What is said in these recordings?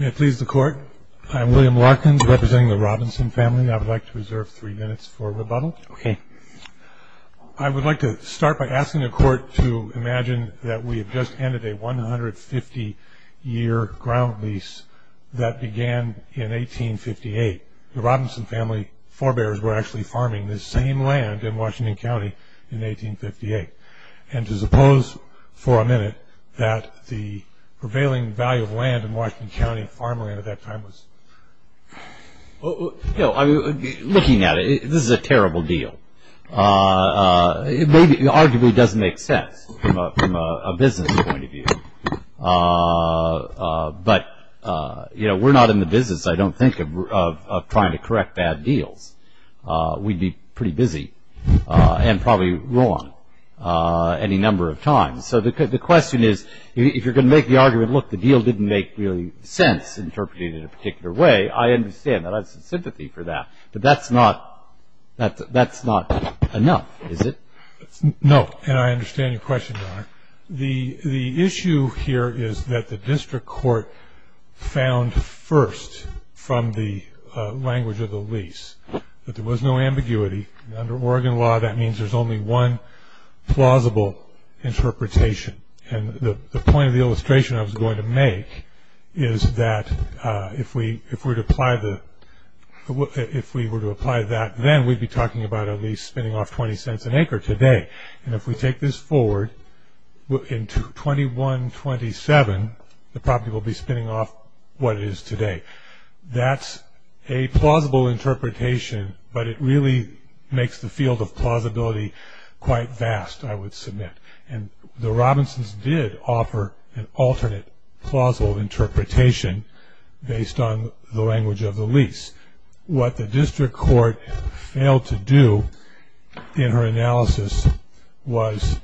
May it please the Court, I am William Larkins, representing the Robinson family. I would like to reserve three minutes for rebuttal. I would like to start by asking the Court to imagine that we have just ended a 150 year ground lease that began in 1858. The Robinson family forebears were actually farming this same land in Washington County in 1858. And to suppose for a minute that the prevailing value of land in Washington County farmland at that time was... Looking at it, this is a terrible deal. It arguably doesn't make sense from a business point of view. But we're not in the business, I don't think, of trying to correct bad deals. We'd be pretty busy and probably wrong any number of times. So the question is, if you're going to make the argument, look, the deal didn't make really sense interpreted in a particular way, I understand that. I have some sympathy for that. But that's not enough, is it? No, and I understand your question, Your Honor. The issue here is that the district court found first from the language of the lease that there was no ambiguity. Under Oregon law, that means there's only one plausible interpretation. And the point of the illustration I was going to make is that if we were to apply that, then we'd be talking about a lease spinning off 20 cents an acre today. And if we take this forward into 2127, the property will be spinning off what it is today. That's a plausible interpretation, but it really makes the field of plausibility quite vast, I would submit. And the Robinsons did offer an alternate plausible interpretation based on the language of the lease. What the district court failed to do in her analysis was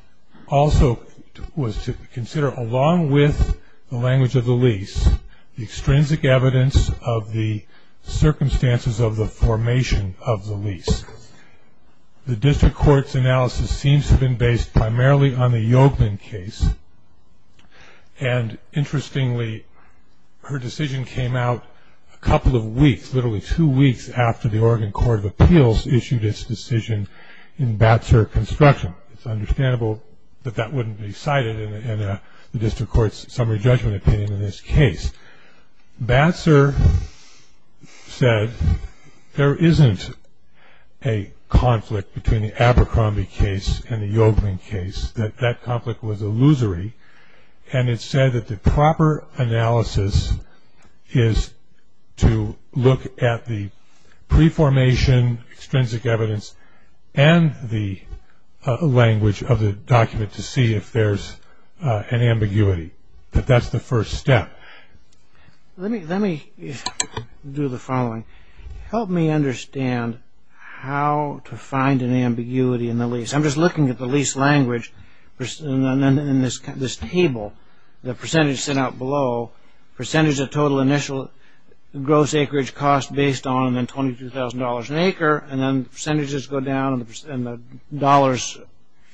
to consider, along with the language of the lease, the extrinsic evidence of the circumstances of the formation of the lease. The district court's analysis seems to have been based primarily on the Yolkman case. And interestingly, her decision came out a couple of weeks, literally two weeks, after the Oregon Court of Appeals issued its decision in Batser Construction. It's understandable that that wouldn't be cited in the district court's summary judgment opinion in this case. Batser said there isn't a conflict between the Abercrombie case and the Yolkman case, that that conflict was illusory. And it said that the proper analysis is to look at the pre-formation extrinsic evidence and the language of the document to see if there's an ambiguity. But that's the first step. Let me do the following. Help me understand how to find an ambiguity in the lease. I'm just looking at the lease language in this table, the percentage set out below, percentage of total initial gross acreage cost based on $22,000 an acre, and then percentages go down and the dollars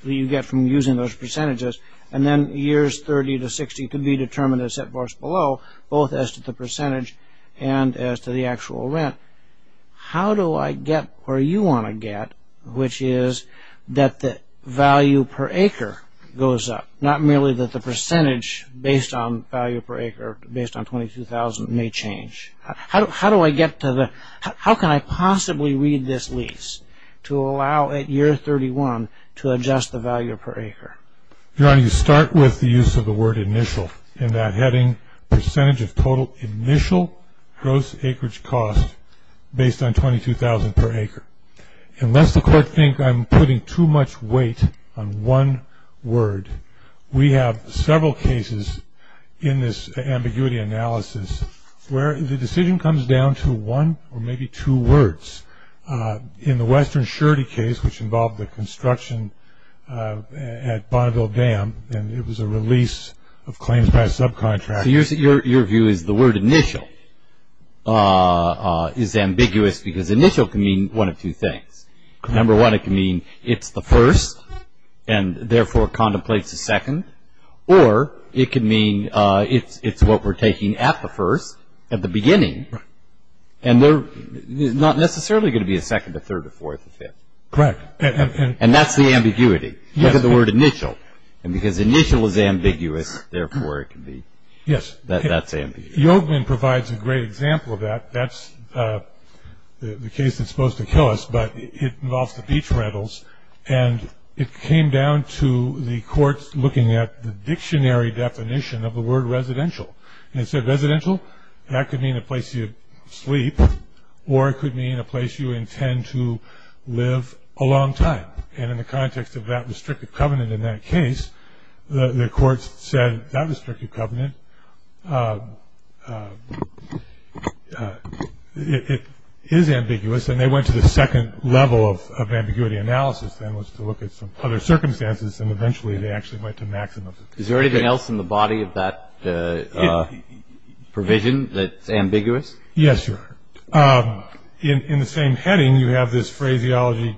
that you get from using those percentages, and then years 30 to 60 could be determined as set for us below, both as to the percentage and as to the actual rent. How do I get where you want to get, which is that the value per acre goes up, not merely that the percentage based on value per acre, based on $22,000, may change? How do I get to the, how can I possibly read this lease to allow at year 31 to adjust the value per acre? Your Honor, you start with the use of the word initial in that heading, percentage of total initial gross acreage cost based on $22,000 per acre. Unless the court thinks I'm putting too much weight on one word, we have several cases in this ambiguity analysis where the decision comes down to one or maybe two words. In the Western Surety case, which involved the construction at Bonneville Dam, and it was a release of claims by a subcontractor. So your view is the word initial is ambiguous because initial can mean one of two things. Number one, it can mean it's the first and therefore contemplates the second, or it can mean it's what we're taking at the first, at the beginning, and there's not necessarily going to be a second, a third, a fourth, a fifth. Correct. And that's the ambiguity. Yes. Look at the word initial, and because initial is ambiguous, therefore it can be. Yes. That's ambiguous. Yogevman provides a great example of that. That's the case that's supposed to kill us, but it involves the beach rentals, and it came down to the courts looking at the dictionary definition of the word residential. And instead of residential, that could mean a place you sleep, or it could mean a place you intend to live a long time. And in the context of that restrictive covenant in that case, the courts said that restrictive covenant is ambiguous, and they went to the second level of ambiguity analysis, and it was to look at some other circumstances, and eventually they actually went to maximum. Is there anything else in the body of that provision that's ambiguous? Yes, there are. In the same heading, you have this phraseology,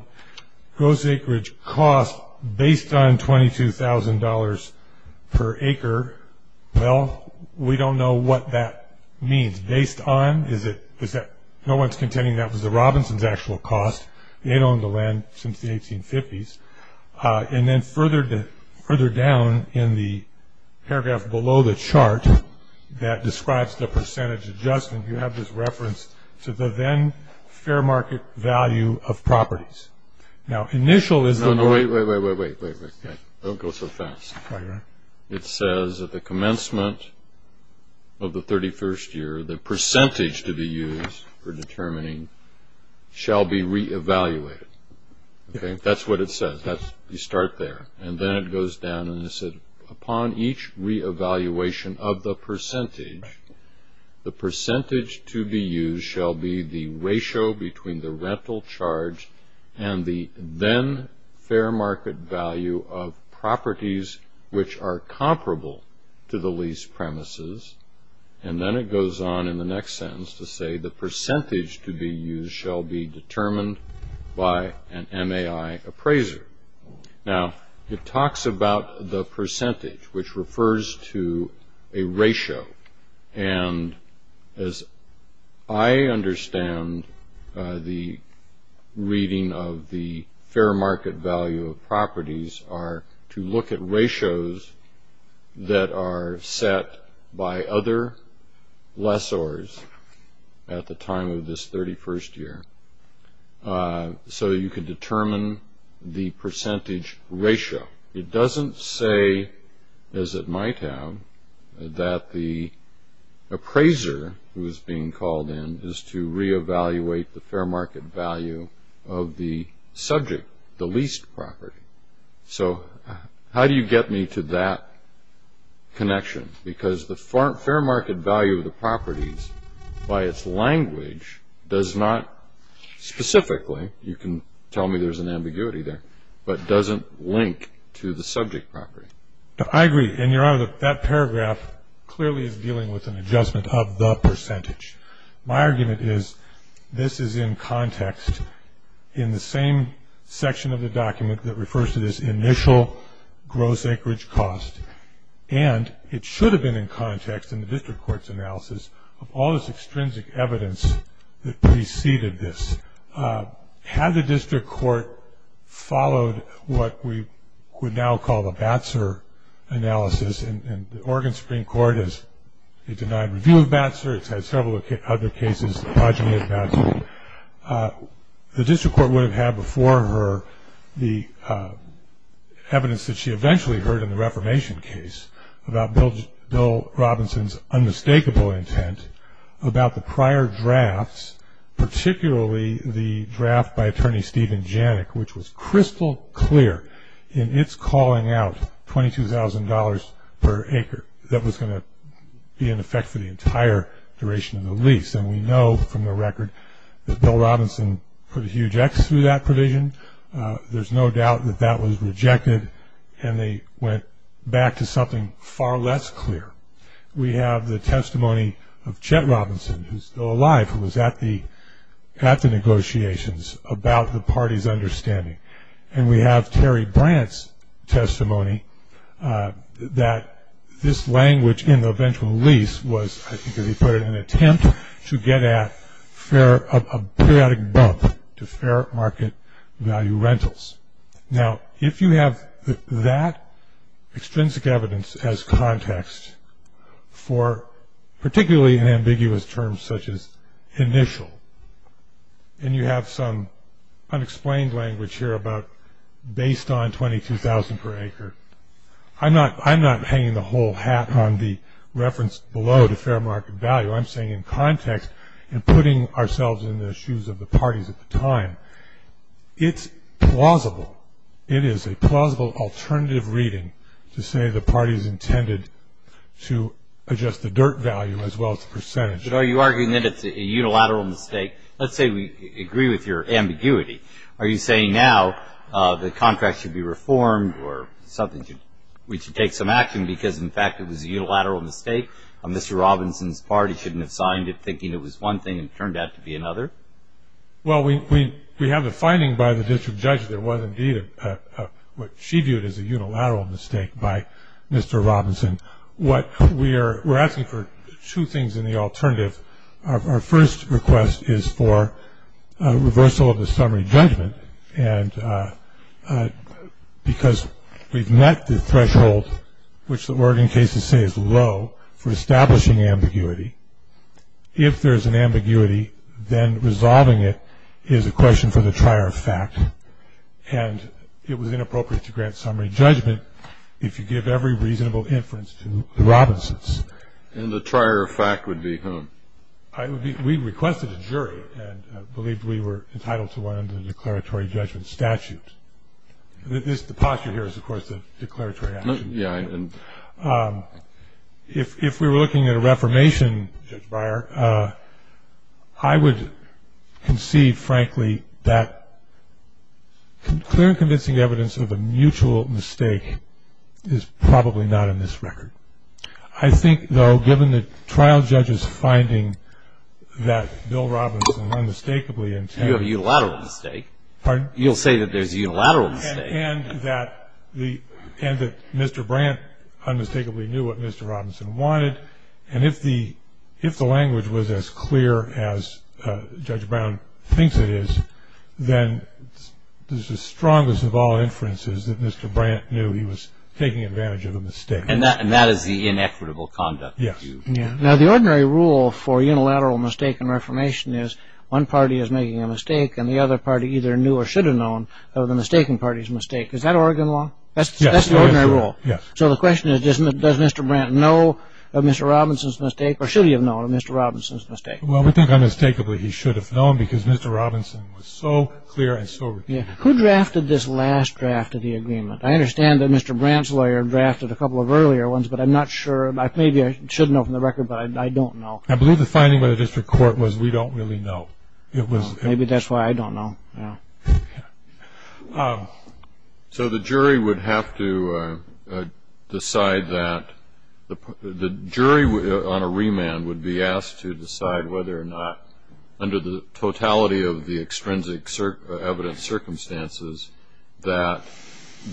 gross acreage cost based on $22,000 per acre. Well, we don't know what that means. Based on? No one's contending that was the Robinsons' actual cost. They had owned the land since the 1850s. And then further down in the paragraph below the chart that describes the percentage adjustment, you have this reference to the then fair market value of properties. Wait, wait, wait, wait. Don't go so fast. It says at the commencement of the 31st year, the percentage to be used for determining shall be re-evaluated. That's what it says. You start there. And then it goes down and it said, upon each re-evaluation of the percentage, the percentage to be used shall be the ratio between the rental charge and the then fair market value of properties which are comparable to the lease premises. And then it goes on in the next sentence to say, the percentage to be used shall be determined by an MAI appraiser. Now, it talks about the percentage, which refers to a ratio. And as I understand the reading of the fair market value of properties are to look at ratios that are set by other lessors at the time of this 31st year. So you can determine the percentage ratio. It doesn't say, as it might have, that the appraiser who is being called in is to re-evaluate the fair market value of the subject, the leased property. So how do you get me to that connection? Because the fair market value of the properties by its language does not specifically, you can tell me there's an ambiguity there, but doesn't link to the subject property. I agree. And, Your Honor, that paragraph clearly is dealing with an adjustment of the percentage. My argument is, this is in context in the same section of the document that refers to this initial gross acreage cost. And it should have been in context in the district court's analysis of all this extrinsic evidence that preceded this. Had the district court followed what we would now call the BATSR analysis, and the Oregon Supreme Court has denied review of BATSR. It's had several other cases, the progeny of BATSR. The district court would have had before her the evidence that she eventually heard in the Reformation case about Bill Robinson's unmistakable intent about the prior drafts, particularly the draft by Attorney Steven Janik, which was crystal clear in its calling out $22,000 per acre that was going to be in effect for the entire duration of the lease. And we know from the record that Bill Robinson put a huge X through that provision. There's no doubt that that was rejected, and they went back to something far less clear. We have the testimony of Chet Robinson, who's still alive, who was at the negotiations about the party's understanding. And we have Terry Brandt's testimony that this language in the eventual lease was, I think as he put it, an attempt to get at a periodic bump to fair market value rentals. Now, if you have that extrinsic evidence as context for particularly in ambiguous terms such as initial, and you have some unexplained language here about based on $22,000 per acre, I'm not hanging the whole hat on the reference below to fair market value. I'm saying in context and putting ourselves in the shoes of the parties at the time, it's plausible. It is a plausible alternative reading to say the parties intended to adjust the dirt value as well as the percentage. But are you arguing that it's a unilateral mistake? Let's say we agree with your ambiguity. Are you saying now the contract should be reformed or we should take some action because, in fact, it was a unilateral mistake and Mr. Robinson's party shouldn't have signed it thinking it was one thing and it turned out to be another? Well, we have a finding by the district judge that it was indeed what she viewed as a unilateral mistake by Mr. Robinson. We're asking for two things in the alternative. Our first request is for reversal of the summary judgment because we've met the threshold which the Oregon cases say is low for establishing ambiguity. If there's an ambiguity, then resolving it is a question for the trier of fact, and it was inappropriate to grant summary judgment if you give every reasonable inference to the Robinsons. And the trier of fact would be whom? We requested a jury and believed we were entitled to one under the declaratory judgment statute. The posture here is, of course, the declaratory action. If we were looking at a reformation, Judge Beyer, I would conceive, frankly, that clear and convincing evidence of a mutual mistake is probably not in this record. I think, though, given the trial judge's finding that Bill Robinson unmistakably intended to You have a unilateral mistake. Pardon? You'll say that there's a unilateral mistake. And that Mr. Brandt unmistakably knew what Mr. Robinson wanted. And if the language was as clear as Judge Brown thinks it is, then it's the strongest of all inferences that Mr. Brandt knew he was taking advantage of a mistake. And that is the inequitable conduct. Yes. Now, the ordinary rule for unilateral mistake in reformation is one party is making a mistake and the other party either knew or should have known of the mistaken party's mistake. Is that Oregon law? Yes. That's the ordinary rule. Yes. So the question is, does Mr. Brandt know of Mr. Robinson's mistake? Or should he have known of Mr. Robinson's mistake? Well, we think unmistakably he should have known because Mr. Robinson was so clear and so... Who drafted this last draft of the agreement? I understand that Mr. Brandt's lawyer drafted a couple of earlier ones, but I'm not sure. Maybe I should know from the record, but I don't know. I believe the finding by the district court was we don't really know. Maybe that's why I don't know. So the jury would have to decide that the jury on a remand would be asked to decide whether or not under the totality of the extrinsic evidence circumstances that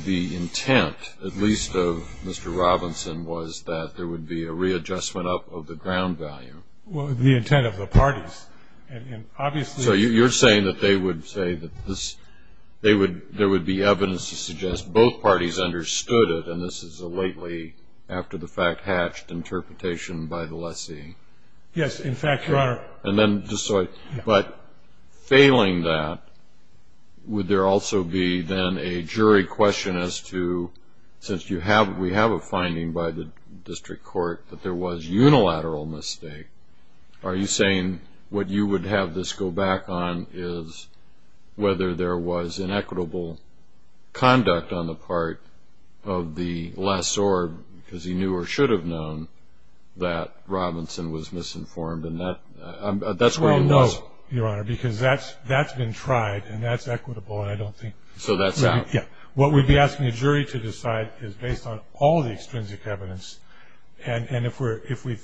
the intent, at least of Mr. Robinson, was that there would be a readjustment up of the ground value. The intent of the parties. So you're saying that there would be evidence to suggest both parties understood it, and this is a lately, after the fact, hatched interpretation by the lessee. Yes, in fact, Your Honor. But failing that, would there also be then a jury question as to, since we have a finding by the district court that there was unilateral mistake, are you saying what you would have this go back on is whether there was inequitable conduct on the part of the lessor because he knew or should have known that Robinson was misinformed. That's where it was. No, Your Honor, because that's been tried, and that's equitable, and I don't think... So that's out. Yeah. What we'd be asking a jury to decide is based on all the extrinsic evidence, and if we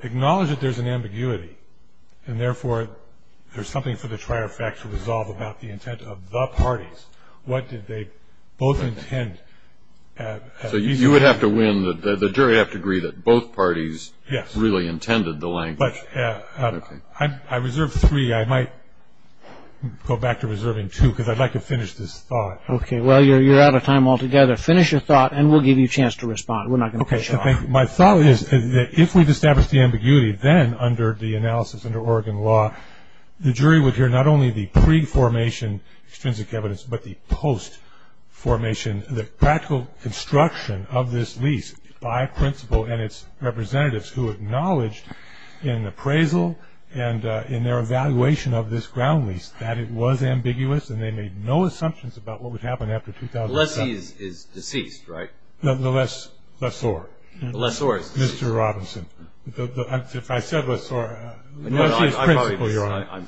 acknowledge that there's an ambiguity, and therefore there's something for the trier fact to resolve about the intent of the parties, what did they both intend... So you would have to win, the jury would have to agree that both parties really intended the language. I reserve three. I might go back to reserving two because I'd like to finish this thought. Okay. Well, you're out of time altogether. Finish your thought, and we'll give you a chance to respond. We're not going to push you off. Okay. My thought is that if we've established the ambiguity, then under the analysis under Oregon law the jury would hear not only the pre-formation extrinsic evidence but the post-formation, the practical construction of this lease by principle and its representatives who acknowledged in appraisal and in their evaluation of this ground lease that it was ambiguous and they made no assumptions about what would happen after 2007. The lessee is deceased, right? The lessor. The lessor is deceased. Mr. Robinson. If I said lessor... No, no, I probably...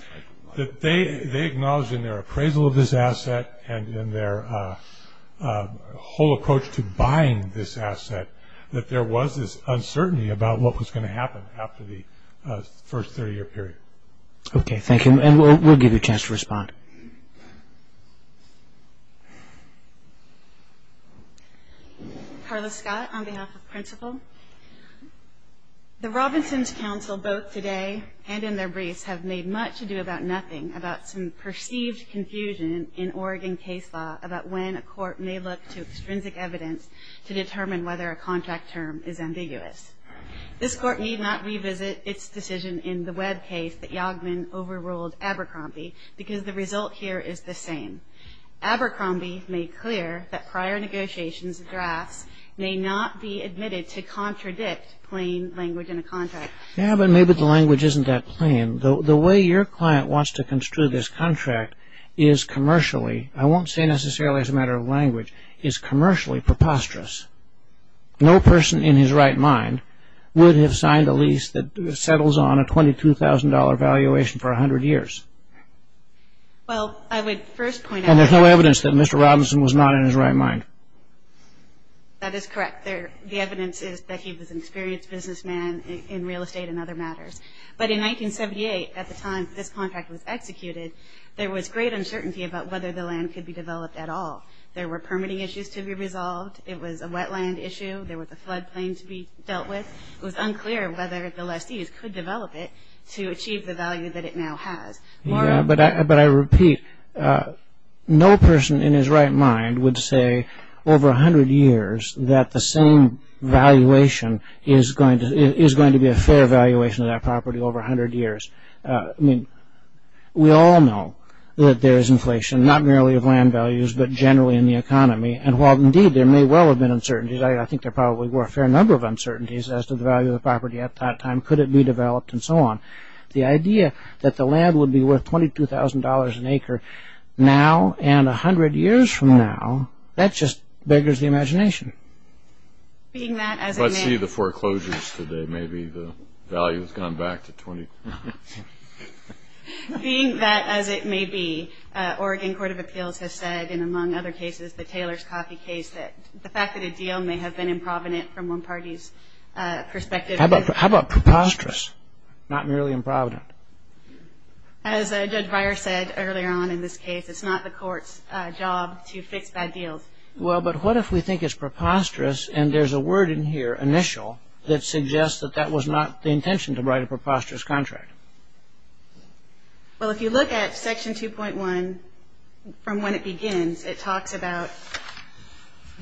That they acknowledged in their appraisal of this asset and in their whole approach to buying this asset that there was this uncertainty about what was going to happen after the first 30-year period. Okay. Thank you. And we'll give you a chance to respond. Carla Scott on behalf of principle. The Robinsons' counsel both today and in their briefs have made much ado about nothing about some perceived confusion in Oregon case law about when a court may look to extrinsic evidence to determine whether a contract term is ambiguous. This court need not revisit its decision in the Webb case that Yogman overruled Abercrombie because the result here is the same. Abercrombie made clear that prior negotiations and drafts may not be admitted to contradict plain language in a contract. Yeah, but maybe the language isn't that plain. The way your client wants to construe this contract is commercially, I won't say necessarily as a matter of language, is commercially preposterous. No person in his right mind would have signed a lease that settles on a $22,000 valuation for 100 years. Well, I would first point out that... And there's no evidence that Mr. Robinson was not in his right mind. That is correct. The evidence is that he was an experienced businessman in real estate and other matters. But in 1978, at the time this contract was executed, there was great uncertainty about whether the land could be developed at all. There were permitting issues to be resolved. It was a wetland issue. There was a floodplain to be dealt with. It was unclear whether the lessees could develop it to achieve the value that it now has. Yeah, but I repeat, no person in his right mind would say over 100 years that the same valuation is going to be a fair valuation of that property over 100 years. I mean, we all know that there is inflation, not merely of land values, but generally in the economy. And while, indeed, there may well have been uncertainties, I think there probably were a fair number of uncertainties as to the value of the property at that time. Could it be developed and so on? The idea that the land would be worth $22,000 an acre now and 100 years from now, that just beggars the imagination. Let's see the foreclosures today. Maybe the value has gone back to $22,000. Being that as it may be, Oregon Court of Appeals has said, and among other cases, the Taylor's Coffee case, that the fact that a deal may have been improvident from one party's perspective. How about preposterous, not merely improvident? As Judge Breyer said earlier on in this case, it's not the court's job to fix bad deals. Well, but what if we think it's preposterous, and there's a word in here, initial, that suggests that that was not the intention to write a preposterous contract? Well, if you look at Section 2.1 from when it begins, it talks about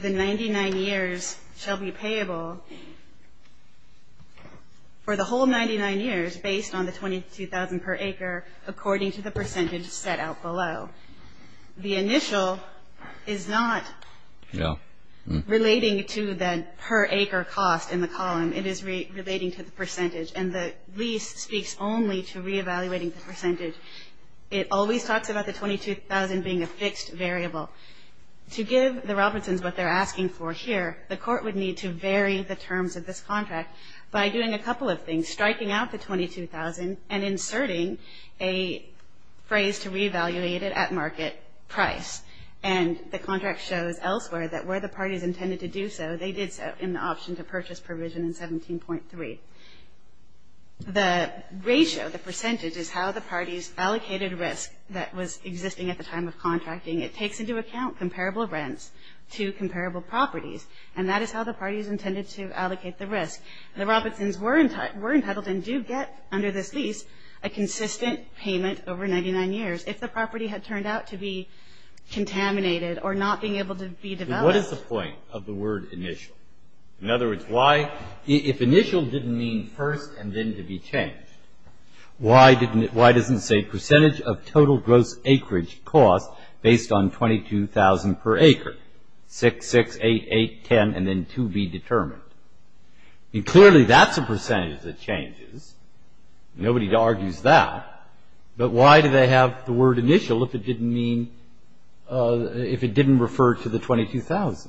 the 99 years shall be payable for the whole 99 years based on the $22,000 per acre according to the percentage set out below. The initial is not relating to the per acre cost in the column. It is relating to the percentage. And the lease speaks only to re-evaluating the percentage. It always talks about the $22,000 being a fixed variable. To give the Robertsons what they're asking for here, the court would need to vary the terms of this contract by doing a couple of things, striking out the $22,000 and inserting a phrase to re-evaluate it at market price. And the contract shows elsewhere that where the parties intended to do so, they did so in the option to purchase provision in 17.3. The ratio, the percentage, is how the parties allocated risk that was existing at the time of contracting. It takes into account comparable rents to comparable properties, and that is how the parties intended to allocate the risk. The Robertsons were entitled and do get under this lease a consistent payment over 99 years if the property had turned out to be contaminated or not being able to be developed. What is the point of the word initial? In other words, if initial didn't mean first and then to be changed, why doesn't it say percentage of total gross acreage cost based on $22,000 per acre, 6, 6, 8, 8, 10, and then 2 be determined? Clearly that's a percentage that changes. Nobody argues that. But why do they have the word initial if it didn't mean, if it didn't refer to the $22,000?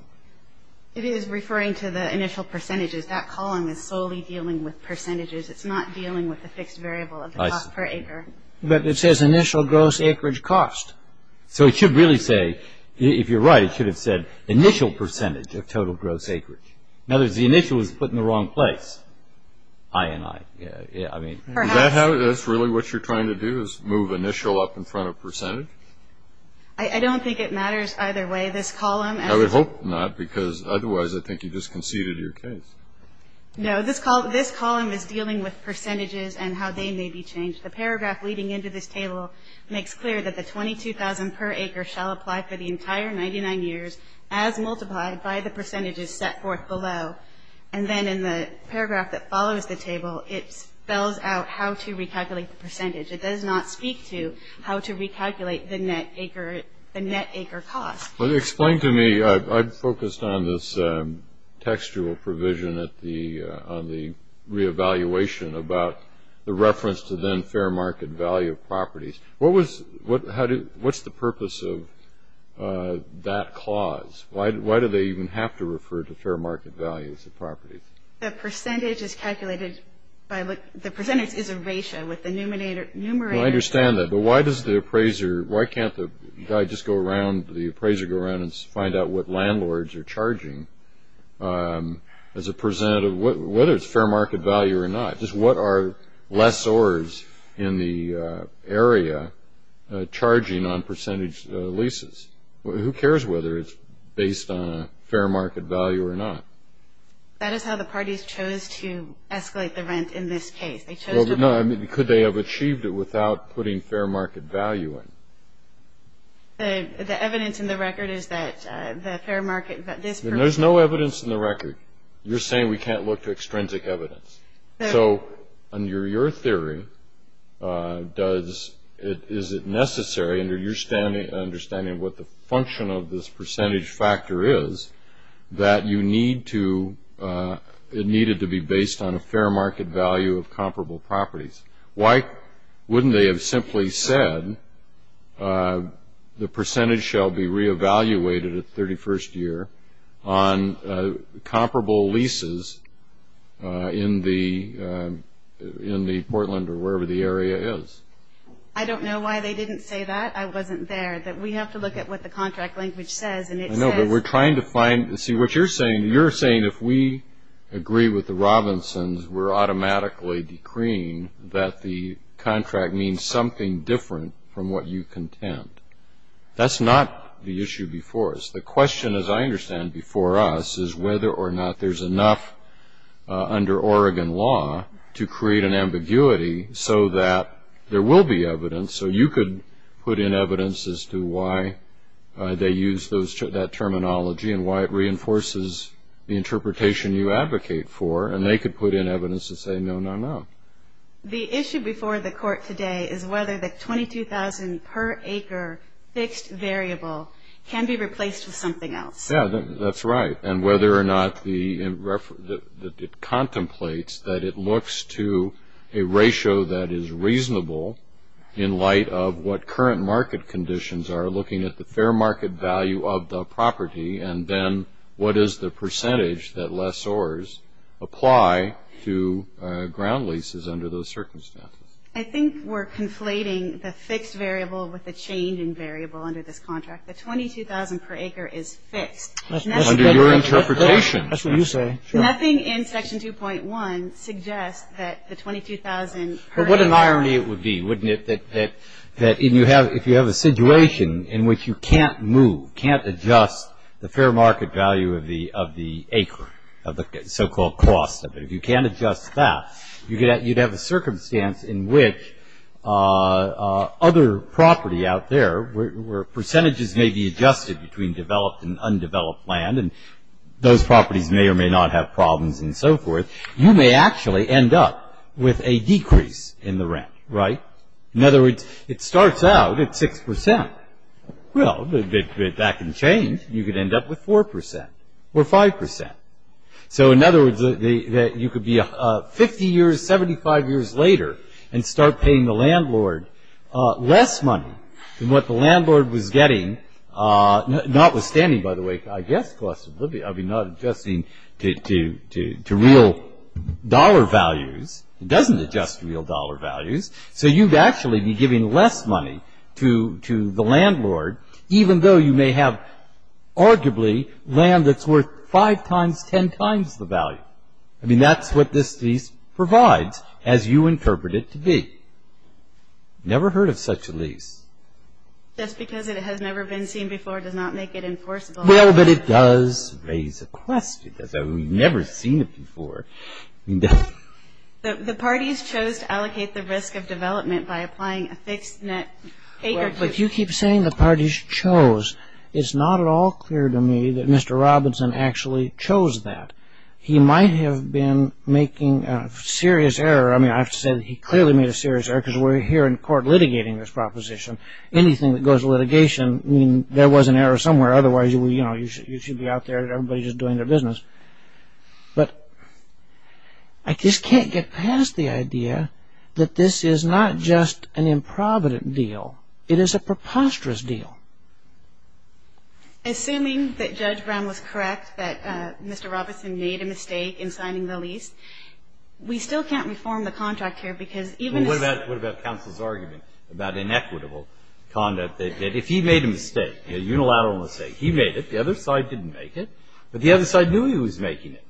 It is referring to the initial percentages. That column is solely dealing with percentages. It's not dealing with the fixed variable of the cost per acre. But it says initial gross acreage cost. So it should really say, if you're right, it should have said initial percentage of total gross acreage. In other words, the initial was put in the wrong place. I and I. That's really what you're trying to do is move initial up in front of percentage? I don't think it matters either way. This column. I would hope not because otherwise I think you just conceded your case. No, this column is dealing with percentages and how they may be changed. The paragraph leading into this table makes clear that the $22,000 per acre shall apply for the entire 99 years as multiplied by the percentages set forth below. And then in the paragraph that follows the table, it spells out how to recalculate the percentage. It does not speak to how to recalculate the net acre cost. Explain to me. I've focused on this textual provision on the reevaluation about the reference to then fair market value properties. What's the purpose of that clause? Why do they even have to refer to fair market values of properties? The percentage is calculated by the percentage is a ratio with the numerator. I understand that. But why does the appraiser, why can't the guy just go around, the appraiser go around and find out what landlords are charging as a percent of whether it's fair market value or not? Just what are lessors in the area charging on percentage leases? Who cares whether it's based on a fair market value or not? That is how the parties chose to escalate the rent in this case. Could they have achieved it without putting fair market value in? The evidence in the record is that the fair market that this person. There's no evidence in the record. You're saying we can't look to extrinsic evidence. So under your theory, is it necessary, under your understanding of what the function of this percentage factor is, that it needed to be based on a fair market value of comparable properties? Why wouldn't they have simply said the percentage shall be re-evaluated at 31st year on comparable leases in the Portland or wherever the area is? I don't know why they didn't say that. I wasn't there. We have to look at what the contract language says. I know, but we're trying to find. See, what you're saying, you're saying if we agree with the Robinsons, we're automatically decreeing that the contract means something different from what you contend. That's not the issue before us. The question, as I understand it before us, is whether or not there's enough under Oregon law to create an ambiguity so that there will be evidence, so you could put in evidence as to why they use that terminology and why it reinforces the interpretation you advocate for, and they could put in evidence to say no, no, no. The issue before the court today is whether the 22,000 per acre fixed variable can be replaced with something else. Yeah, that's right. And whether or not it contemplates that it looks to a ratio that is reasonable in light of what current market conditions are, looking at the fair market value of the property, and then what is the percentage that lessors apply to ground leases under those circumstances. I think we're conflating the fixed variable with the change in variable under this contract. The 22,000 per acre is fixed. Under your interpretation. That's what you say. Nothing in Section 2.1 suggests that the 22,000 per acre. But what an irony it would be, wouldn't it, that if you have a situation in which you can't move, can't adjust the fair market value of the acre, of the so-called cost of it, you can't adjust that, you'd have a circumstance in which other property out there where percentages may be adjusted between developed and undeveloped land, and those properties may or may not have problems and so forth, you may actually end up with a decrease in the rent, right? In other words, it starts out at 6%. Well, that can change. You could end up with 4% or 5%. So, in other words, you could be 50 years, 75 years later and start paying the landlord less money than what the landlord was getting, notwithstanding, by the way, I guess cost of living, I mean, not adjusting to real dollar values. It doesn't adjust to real dollar values. So you'd actually be giving less money to the landlord, even though you may have arguably land that's worth 5 times, 10 times the value. I mean, that's what this lease provides, as you interpret it to be. Never heard of such a lease. Just because it has never been seen before does not make it enforceable. Well, but it does raise a question. We've never seen it before. The parties chose to allocate the risk of development by applying a fixed net acreage. But you keep saying the parties chose. It's not at all clear to me that Mr. Robinson actually chose that. He might have been making a serious error. I mean, I have to say that he clearly made a serious error because we're here in court litigating this proposition. Anything that goes to litigation means there was an error somewhere. Otherwise, you should be out there and everybody's just doing their business. But I just can't get past the idea that this is not just an improvident deal. It is a preposterous deal. Assuming that Judge Brown was correct, that Mr. Robinson made a mistake in signing the lease, we still can't reform the contract here because even if the other side knew he was making it. Well, what about counsel's argument about inequitable conduct? That if he made a mistake, a unilateral mistake, he made it, the other side didn't make it, but the other side knew he was making it.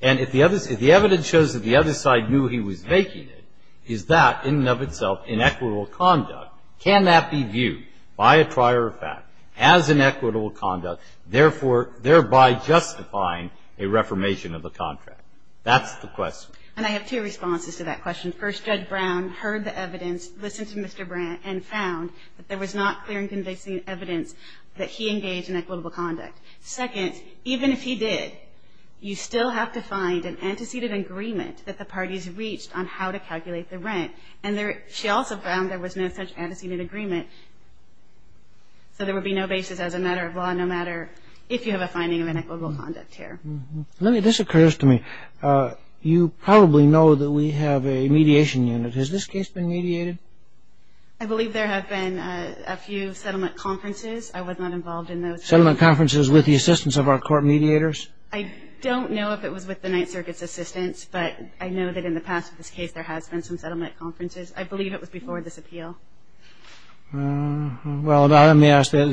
And if the evidence shows that the other side knew he was making it, is that in and of itself inequitable conduct? Can that be viewed by a prior effect as inequitable conduct, therefore thereby justifying a reformation of the contract? That's the question. And I have two responses to that question. First, Judge Brown heard the evidence, listened to Mr. Brandt, and found that there was not clear and convincing evidence that he engaged in equitable conduct. Second, even if he did, you still have to find an antecedent agreement that the parties reached on how to calculate the rent. And she also found there was no such antecedent agreement, so there would be no basis as a matter of law, no matter if you have a finding of inequitable conduct here. This occurs to me. You probably know that we have a mediation unit. Has this case been mediated? I believe there have been a few settlement conferences. I was not involved in those. Settlement conferences with the assistance of our court mediators? I don't know if it was with the Ninth Circuit's assistance, but I know that in the past with this case there has been some settlement conferences. I believe it was before this appeal. Well, let me ask that.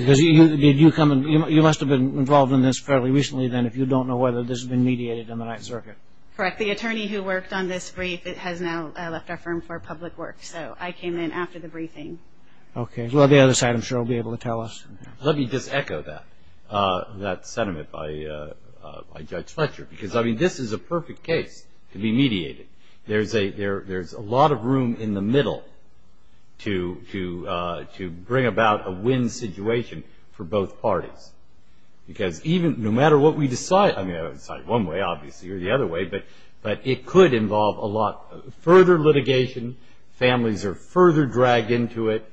You must have been involved in this fairly recently, then, if you don't know whether this has been mediated in the Ninth Circuit. Correct. The attorney who worked on this brief has now left our firm for public work, so I came in after the briefing. Okay. Well, the other side, I'm sure, will be able to tell us. Let me just echo that sentiment by Judge Fletcher, because, I mean, this is a perfect case to be mediated. There's a lot of room in the middle to bring about a win situation for both parties, because no matter what we decide, I mean, we decide one way, obviously, or the other way, but it could involve a lot further litigation. Families are further dragged into it.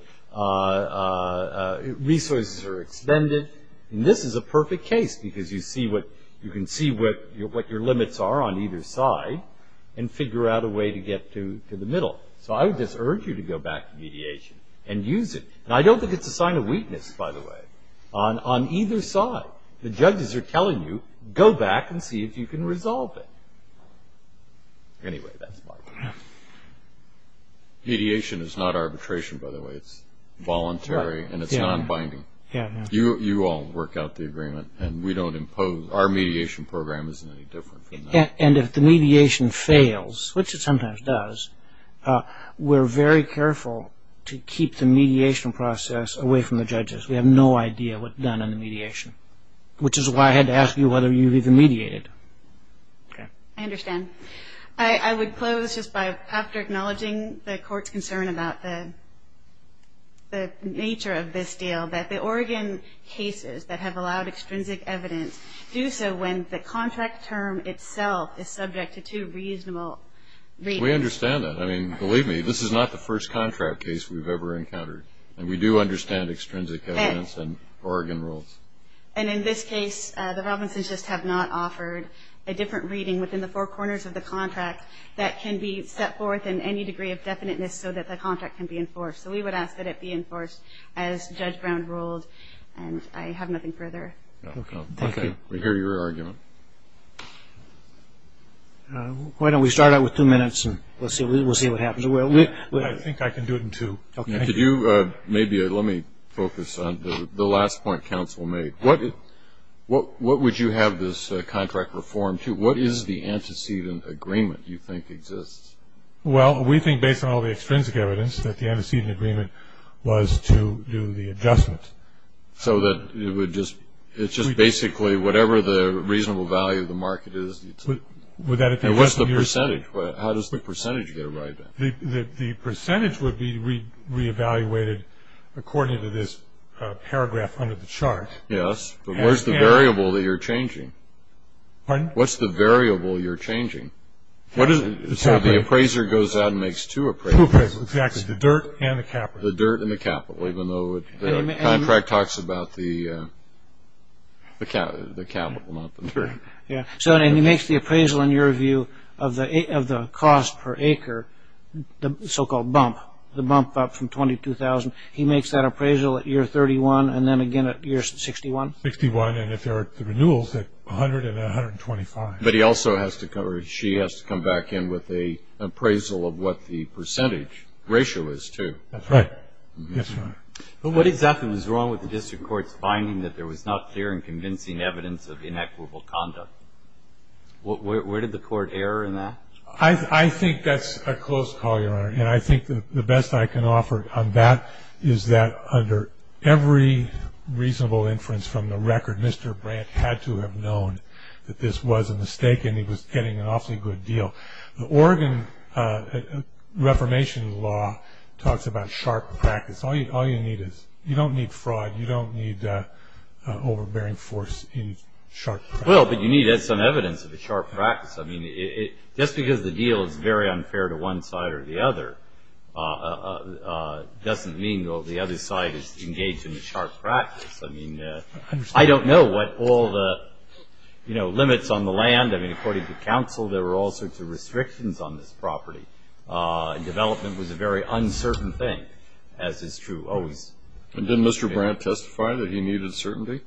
Resources are expended. This is a perfect case because you can see what your limits are on either side and figure out a way to get to the middle. So I would just urge you to go back to mediation and use it. And I don't think it's a sign of weakness, by the way. On either side, the judges are telling you, go back and see if you can resolve it. Anyway, that's my point. Mediation is not arbitration, by the way. It's voluntary and it's non-binding. You all work out the agreement, and we don't impose. Our mediation program isn't any different from that. And if the mediation fails, which it sometimes does, we're very careful to keep the mediation process away from the judges. We have no idea what's done on the mediation, which is why I had to ask you whether you've even mediated. Okay. I understand. I would close just by, after acknowledging the Court's concern about the nature of this deal, that the Oregon cases that have allowed extrinsic evidence do so when the contract term itself is subject to two reasonable readings. We understand that. I mean, believe me, this is not the first contract case we've ever encountered. And we do understand extrinsic evidence and Oregon rules. And in this case, the Robinsons just have not offered a different reading within the four corners of the contract that can be set forth in any degree of definiteness so that the contract can be enforced. So we would ask that it be enforced as Judge Brown ruled. And I have nothing further. Okay. Thank you. We hear your argument. Why don't we start out with two minutes and we'll see what happens. I think I can do it in two. Okay. Maybe let me focus on the last point counsel made. What would you have this contract reform to? What is the antecedent agreement you think exists? Well, we think, based on all the extrinsic evidence, that the antecedent agreement was to do the adjustment. So it's just basically whatever the reasonable value of the market is. And what's the percentage? How does the percentage get arrived at? The percentage would be re-evaluated according to this paragraph under the chart. Yes. But where's the variable that you're changing? Pardon? What's the variable you're changing? So the appraiser goes out and makes two appraisals. Two appraisals. Exactly. The dirt and the capital. The dirt and the capital, even though the contract talks about the capital, not the dirt. Yeah. So then he makes the appraisal, in your view, of the cost per acre, the so-called bump, the bump up from $22,000. He makes that appraisal at year 31 and then again at year 61. 61. And if there are renewals, 100 and 125. But he also has to come back in with an appraisal of what the percentage ratio is, too. That's right. Yes, Your Honor. But what exactly was wrong with the district court's finding that there was not clear and convincing evidence of inequitable conduct? Where did the court err in that? I think that's a close call, Your Honor, and I think the best I can offer on that is that under every reasonable inference from the record, Mr. Brandt had to have known that this was a mistake and he was getting an awfully good deal. The Oregon Reformation law talks about sharp practice. All you need is you don't need fraud. You don't need overbearing force. You need sharp practice. Well, but you need some evidence of a sharp practice. I mean, just because the deal is very unfair to one side or the other doesn't mean, though, the other side is engaged in the sharp practice. I mean, I don't know. What all the, you know, limits on the land. I mean, according to counsel, there were all sorts of restrictions on this property, and development was a very uncertain thing, as is true always. And didn't Mr. Brandt testify that he needed certainty?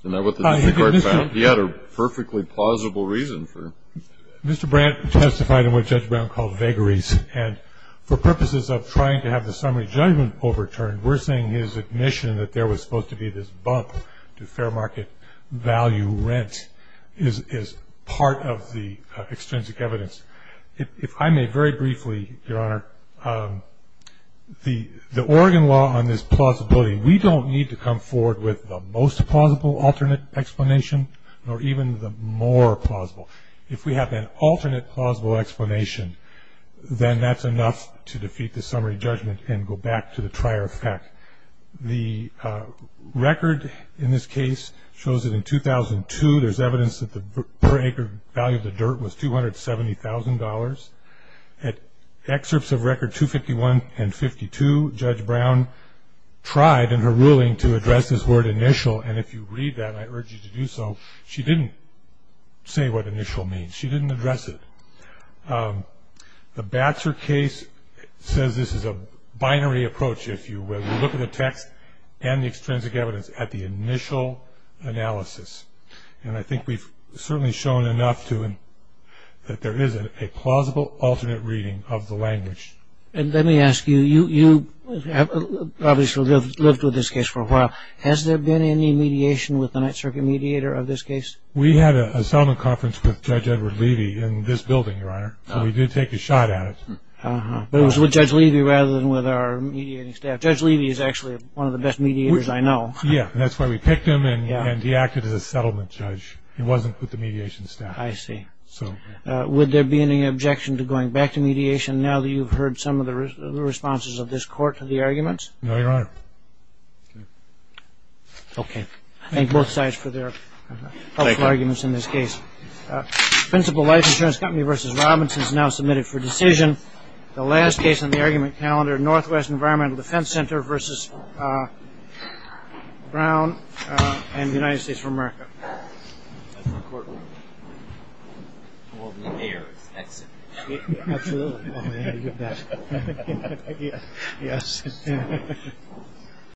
Isn't that what the district court found? He had a perfectly plausible reason for it. Mr. Brandt testified in what Judge Brown called vagaries, and for purposes of trying to have the summary judgment overturned, we're saying his admission that there was supposed to be this bump to fair market value rent is part of the extrinsic evidence. If I may very briefly, Your Honor, the Oregon law on this plausibility, we don't need to come forward with the most plausible alternate explanation, nor even the more plausible. If we have an alternate plausible explanation, then that's enough to defeat the summary judgment and go back to the trier effect. The record in this case shows that in 2002, there's evidence that the per acre value of the dirt was $270,000. At excerpts of record 251 and 52, Judge Brown tried in her ruling to address this word initial, and if you read that, I urge you to do so. She didn't say what initial means. She didn't address it. The Baxter case says this is a binary approach, if you will. You look at the text and the extrinsic evidence at the initial analysis, and I think we've certainly shown enough that there is a plausible alternate reading of the language. And let me ask you, you have obviously lived with this case for a while. Has there been any mediation with the Ninth Circuit mediator of this case? We had a settlement conference with Judge Edward Levy in this building, Your Honor, and we did take a shot at it. It was with Judge Levy rather than with our mediating staff. Judge Levy is actually one of the best mediators I know. Yeah, and that's why we picked him, and he acted as a settlement judge. He wasn't with the mediation staff. I see. Would there be any objection to going back to mediation now that you've heard some of the responses of this court to the arguments? No, Your Honor. Okay. Thank both sides for their helpful arguments in this case. Principal Life Insurance Company v. Robinson is now submitted for decision. The last case on the argument calendar, Northwest Environmental Defense Center v. Brown and the United States of America. That's the courtroom. Well, the air is excellent. Absolutely. Yes.